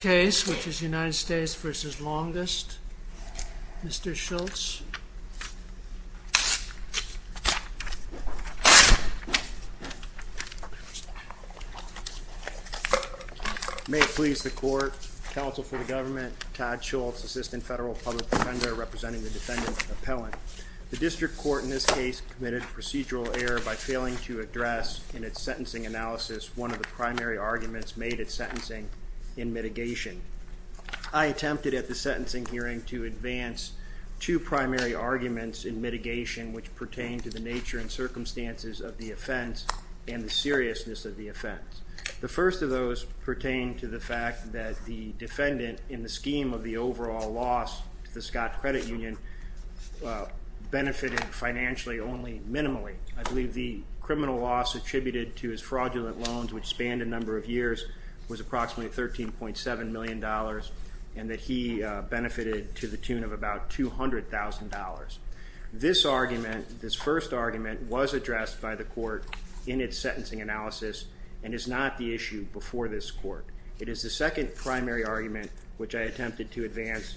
case, which is United States v. Longust. Mr. Schultz. May it please the Court, Counsel for the Government, Todd Schultz, Assistant Federal Public Defender, representing the Defendant Appellant. The District Court in this case committed procedural error by failing to address, in its sentencing analysis, one of the primary arguments made at sentencing in mitigation. I attempted at the sentencing hearing to advance two primary arguments in mitigation which pertain to the nature and circumstances of the offense and the seriousness of the offense. The first of those pertain to the fact that the Defendant, in the scheme of the overall loss to the Scott Credit Union, benefited financially only minimally. I believe the criminal loss attributed to his fraudulent loans, which spanned a number of years, was approximately $13.7 million and that he benefited to the tune of about $200,000. This argument, this first argument, was addressed by the Court in its sentencing analysis and is not the issue before this Court. It is the second primary argument which I attempted to advance,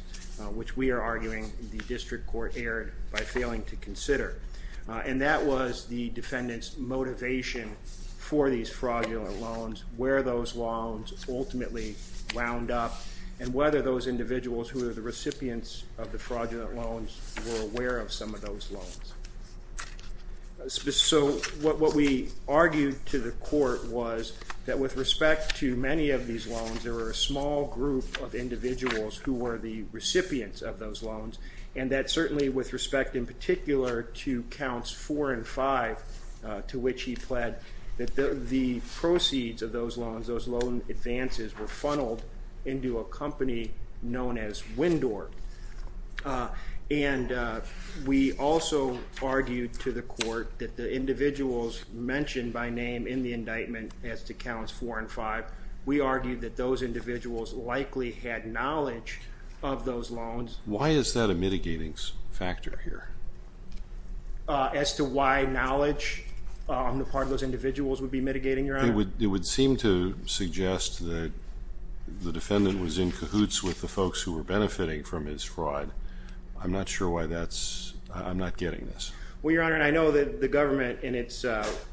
which we are arguing the District Court erred by failing to consider. And that was the Defendant's motivation for these fraudulent loans, where those loans ultimately wound up, and whether those individuals who were the recipients of the fraudulent loans were aware of some of those loans. So what we argued to the Court was that with respect to many of these loans, there were a small group of individuals who were the recipients of those loans, and that certainly with respect in particular to Counts 4 and 5, to which he pled, that the proceeds of those loans, those loan advances, were funneled into a company known as Windor. And we also argued to the Court that the individuals mentioned by name in the indictment as to Counts 4 and 5, we argued that those individuals likely had knowledge of those loans. Why is that a mitigating factor here? As to why knowledge on the part of those individuals would be mitigating, Your Honor? It would seem to suggest that the Defendant was in cahoots with the folks who were benefiting from his fraud. I'm not sure why that's, I'm not getting this. Well, Your Honor, and I know that the government in its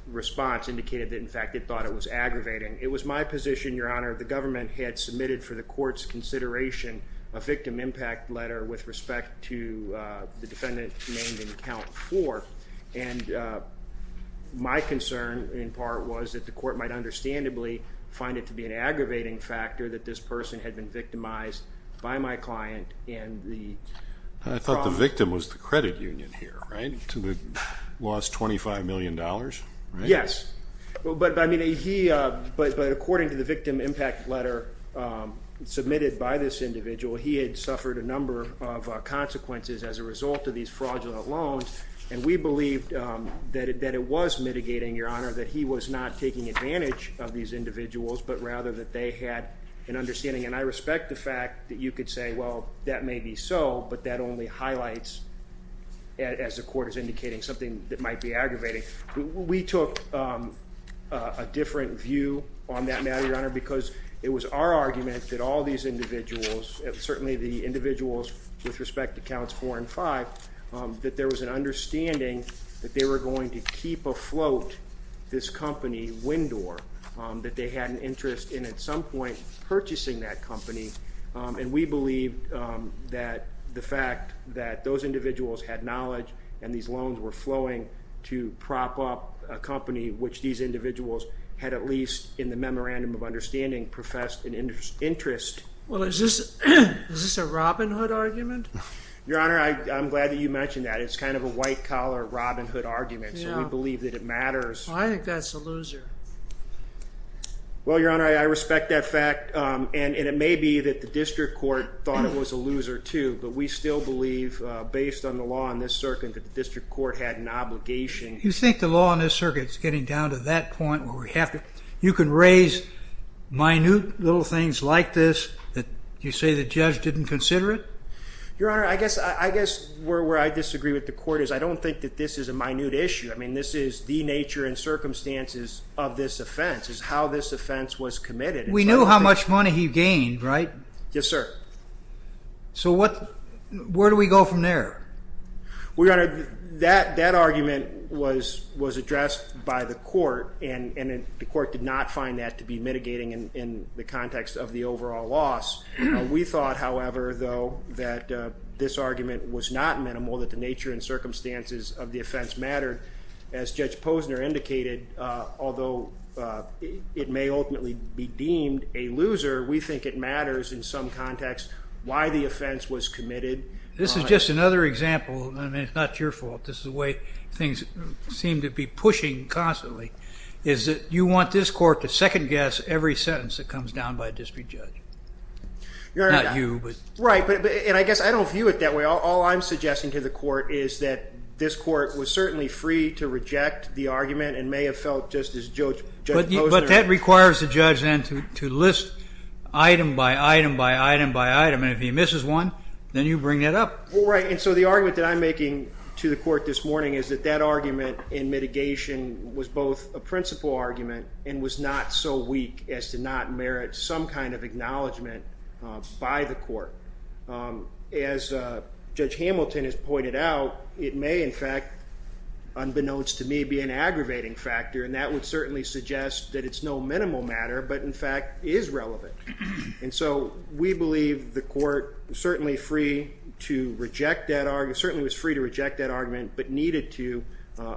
response indicated that in fact it thought it was aggravating. It was my position, Your Honor, the government had submitted for the Court's consideration a victim impact letter with respect to the Defendant named in Count 4, and my concern in part was that the Court might understandably find it to be an aggravating factor that this person had been victimized by my client, and the... I thought the victim was the credit union here, right? To the lost $25 million, right? Yes, but according to the victim impact letter submitted by this individual, he had suffered a number of consequences as a result of these fraudulent loans, and we believed that it was mitigating, Your Honor, that he was not taking advantage of these individuals, but rather that they had an understanding. And I respect the fact that you could say, well, that may be so, but that only highlights, as the Court is indicating, something that might be aggravating. We took a different view on that matter, Your Honor, because it was our argument that all these individuals, certainly the individuals with respect to Counts 4 and 5, that there was an understanding that they were going to keep afloat this company, Windor, that they had an interest in at some point purchasing that company, and we believed that the fact that those individuals had knowledge and these loans were flowing to prop up a company which these individuals had at least, in the memorandum of understanding, professed an interest... Well, is this a Robin Hood argument? Your Honor, I'm glad that you mentioned that. It's kind of a white-collar Robin Hood argument, so we believe that it matters. I think that's a loser. Well, Your Honor, I respect that fact, and it may be that the District Court thought it was a loser, too, but we still believe, based on the law in this circuit, that the District Court had an obligation. You think the law in this circuit is getting down to that point where you can raise minute little things like this that you say the judge didn't consider it? Your Honor, I guess where I disagree with the Court is I don't think that this is a minute issue. I mean, this is the nature and circumstances of this offense, is how this offense was committed. We know how much money he gained, right? Yes, sir. So where do we go from there? Your Honor, that argument was addressed by the Court, and the Court did not find that to be mitigating in the context of the overall loss. We thought, however, though, that this argument was not minimal, that the nature and circumstances of the offense mattered. As Judge Posner indicated, although it may ultimately be deemed a loser, we think it matters in some context why the offense was committed. This is just another example. I mean, it's not your fault. This is the way things seem to be pushing constantly, is that you want this Court to second-guess every sentence that comes down by a district judge, not you. Right. And I guess I don't view it that way. All I'm suggesting to the Court is that this Court was certainly free to reject the argument and may have felt, just as Judge Posner did. But that requires the judge then to list item by item by item by item, and if he misses one, then you bring that up. Right. And so the argument that I'm making to the Court this morning is that that argument in mitigation was both a principal argument and was not so weak as to not merit some kind of acknowledgement by the Court. As Judge Hamilton has pointed out, it may, in fact, unbeknownst to me, be an aggravating factor, and that would certainly suggest that it's no minimal matter but, in fact, is relevant. And so we believe the Court certainly was free to reject that argument but needed to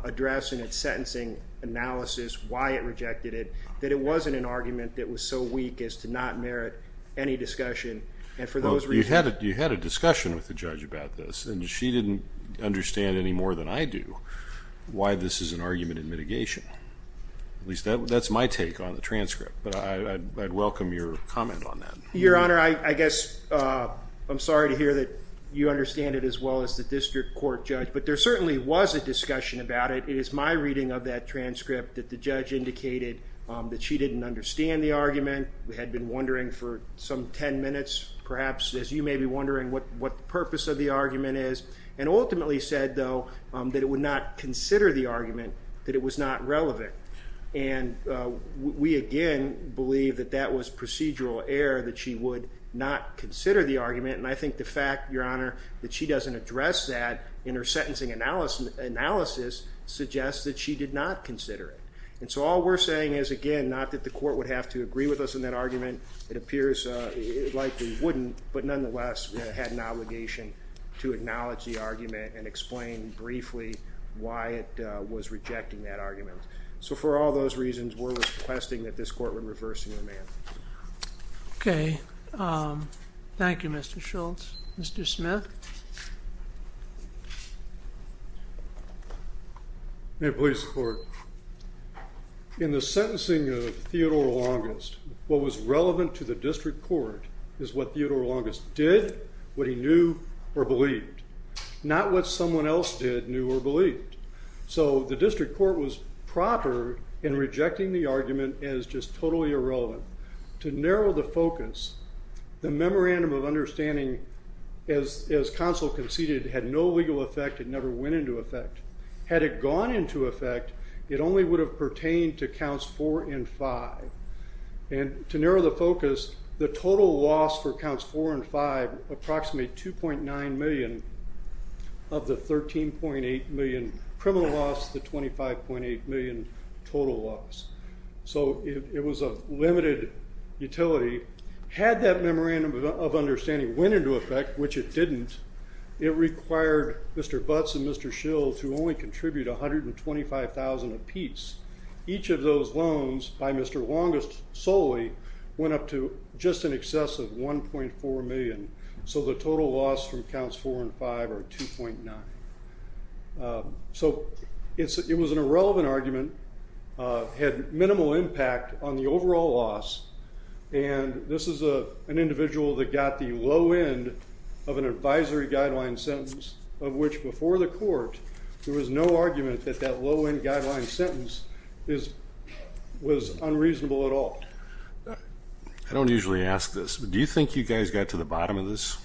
address in its sentencing analysis why it rejected it, that it wasn't an argument that was so weak as to not merit any discussion. You had a discussion with the judge about this, and she didn't understand any more than I do why this is an argument in mitigation. At least that's my take on the transcript, but I'd welcome your comment on that. Your Honor, I guess I'm sorry to hear that you understand it as well as the district court judge, but there certainly was a discussion about it. It is my reading of that transcript that the judge indicated that she didn't understand the argument. We had been wondering for some ten minutes, perhaps, as you may be wondering what the purpose of the argument is, and ultimately said, though, that it would not consider the argument, that it was not relevant. And we, again, believe that that was procedural error, that she would not consider the argument. And I think the fact, Your Honor, that she doesn't address that in her sentencing analysis suggests that she did not consider it. And so all we're saying is, again, not that the Court would have to agree with us on that argument. It appears it likely wouldn't, but nonetheless had an obligation to objecting that argument. So for all those reasons, we're requesting that this Court would reverse the amendment. Okay. Thank you, Mr. Schultz. Mr. Smith? May it please the Court. In the sentencing of Theodore Longest, what was relevant to the district court is what Theodore Longest did, what he knew, or believed. Not what someone else did, knew, or believed. So the district court was proper in rejecting the argument as just totally irrelevant. To narrow the focus, the memorandum of understanding, as counsel conceded, had no legal effect. It never went into effect. Had it gone into effect, it only would have pertained to counts 4 and 5. And to narrow the focus, the total loss for counts 4 and 5, approximately $2.9 million of the $13.8 million criminal loss, the $25.8 million total loss. So it was a limited utility. Had that memorandum of understanding went into effect, which it didn't, it required Mr. Butts and Mr. Schultz to only contribute $125,000 apiece. Each of those loans by Mr. Longest solely went up to just in excess of $1.4 million. So the total loss from counts 4 and 5 are $2.9. So it was an irrelevant argument. Had minimal impact on the overall loss. And this is an individual that got the low end of an advisory guideline sentence, of which before the court there was no argument that that low end guideline sentence was unreasonable at all. I don't usually ask this, but do you think you guys got to the bottom of this?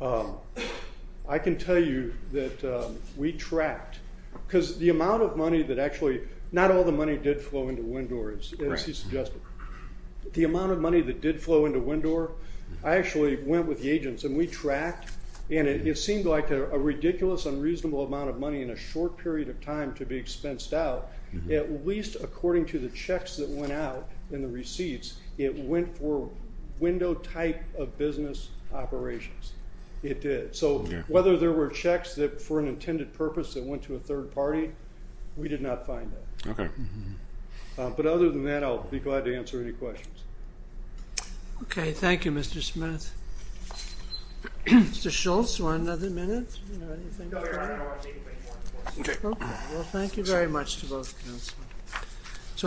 I can tell you that we tracked. Because the amount of money that actually, not all the money did flow into WINDOR, as he suggested. The amount of money that did flow into WINDOR, I actually went with the agents and we tracked. And it seemed like a ridiculous, unreasonable amount of money in a short period of time to be expensed out, at least according to the checks that went out in the receipts, it went for WINDOR type of business operations. It did. So whether there were checks for an intended purpose that went to a third party, we did not find that. Okay. But other than that, I'll be glad to answer any questions. Okay. Thank you, Mr. Smith. Mr. Schultz, do you want another minute? No, I don't want to say anything more. Okay. Well, thank you very much to both counselors.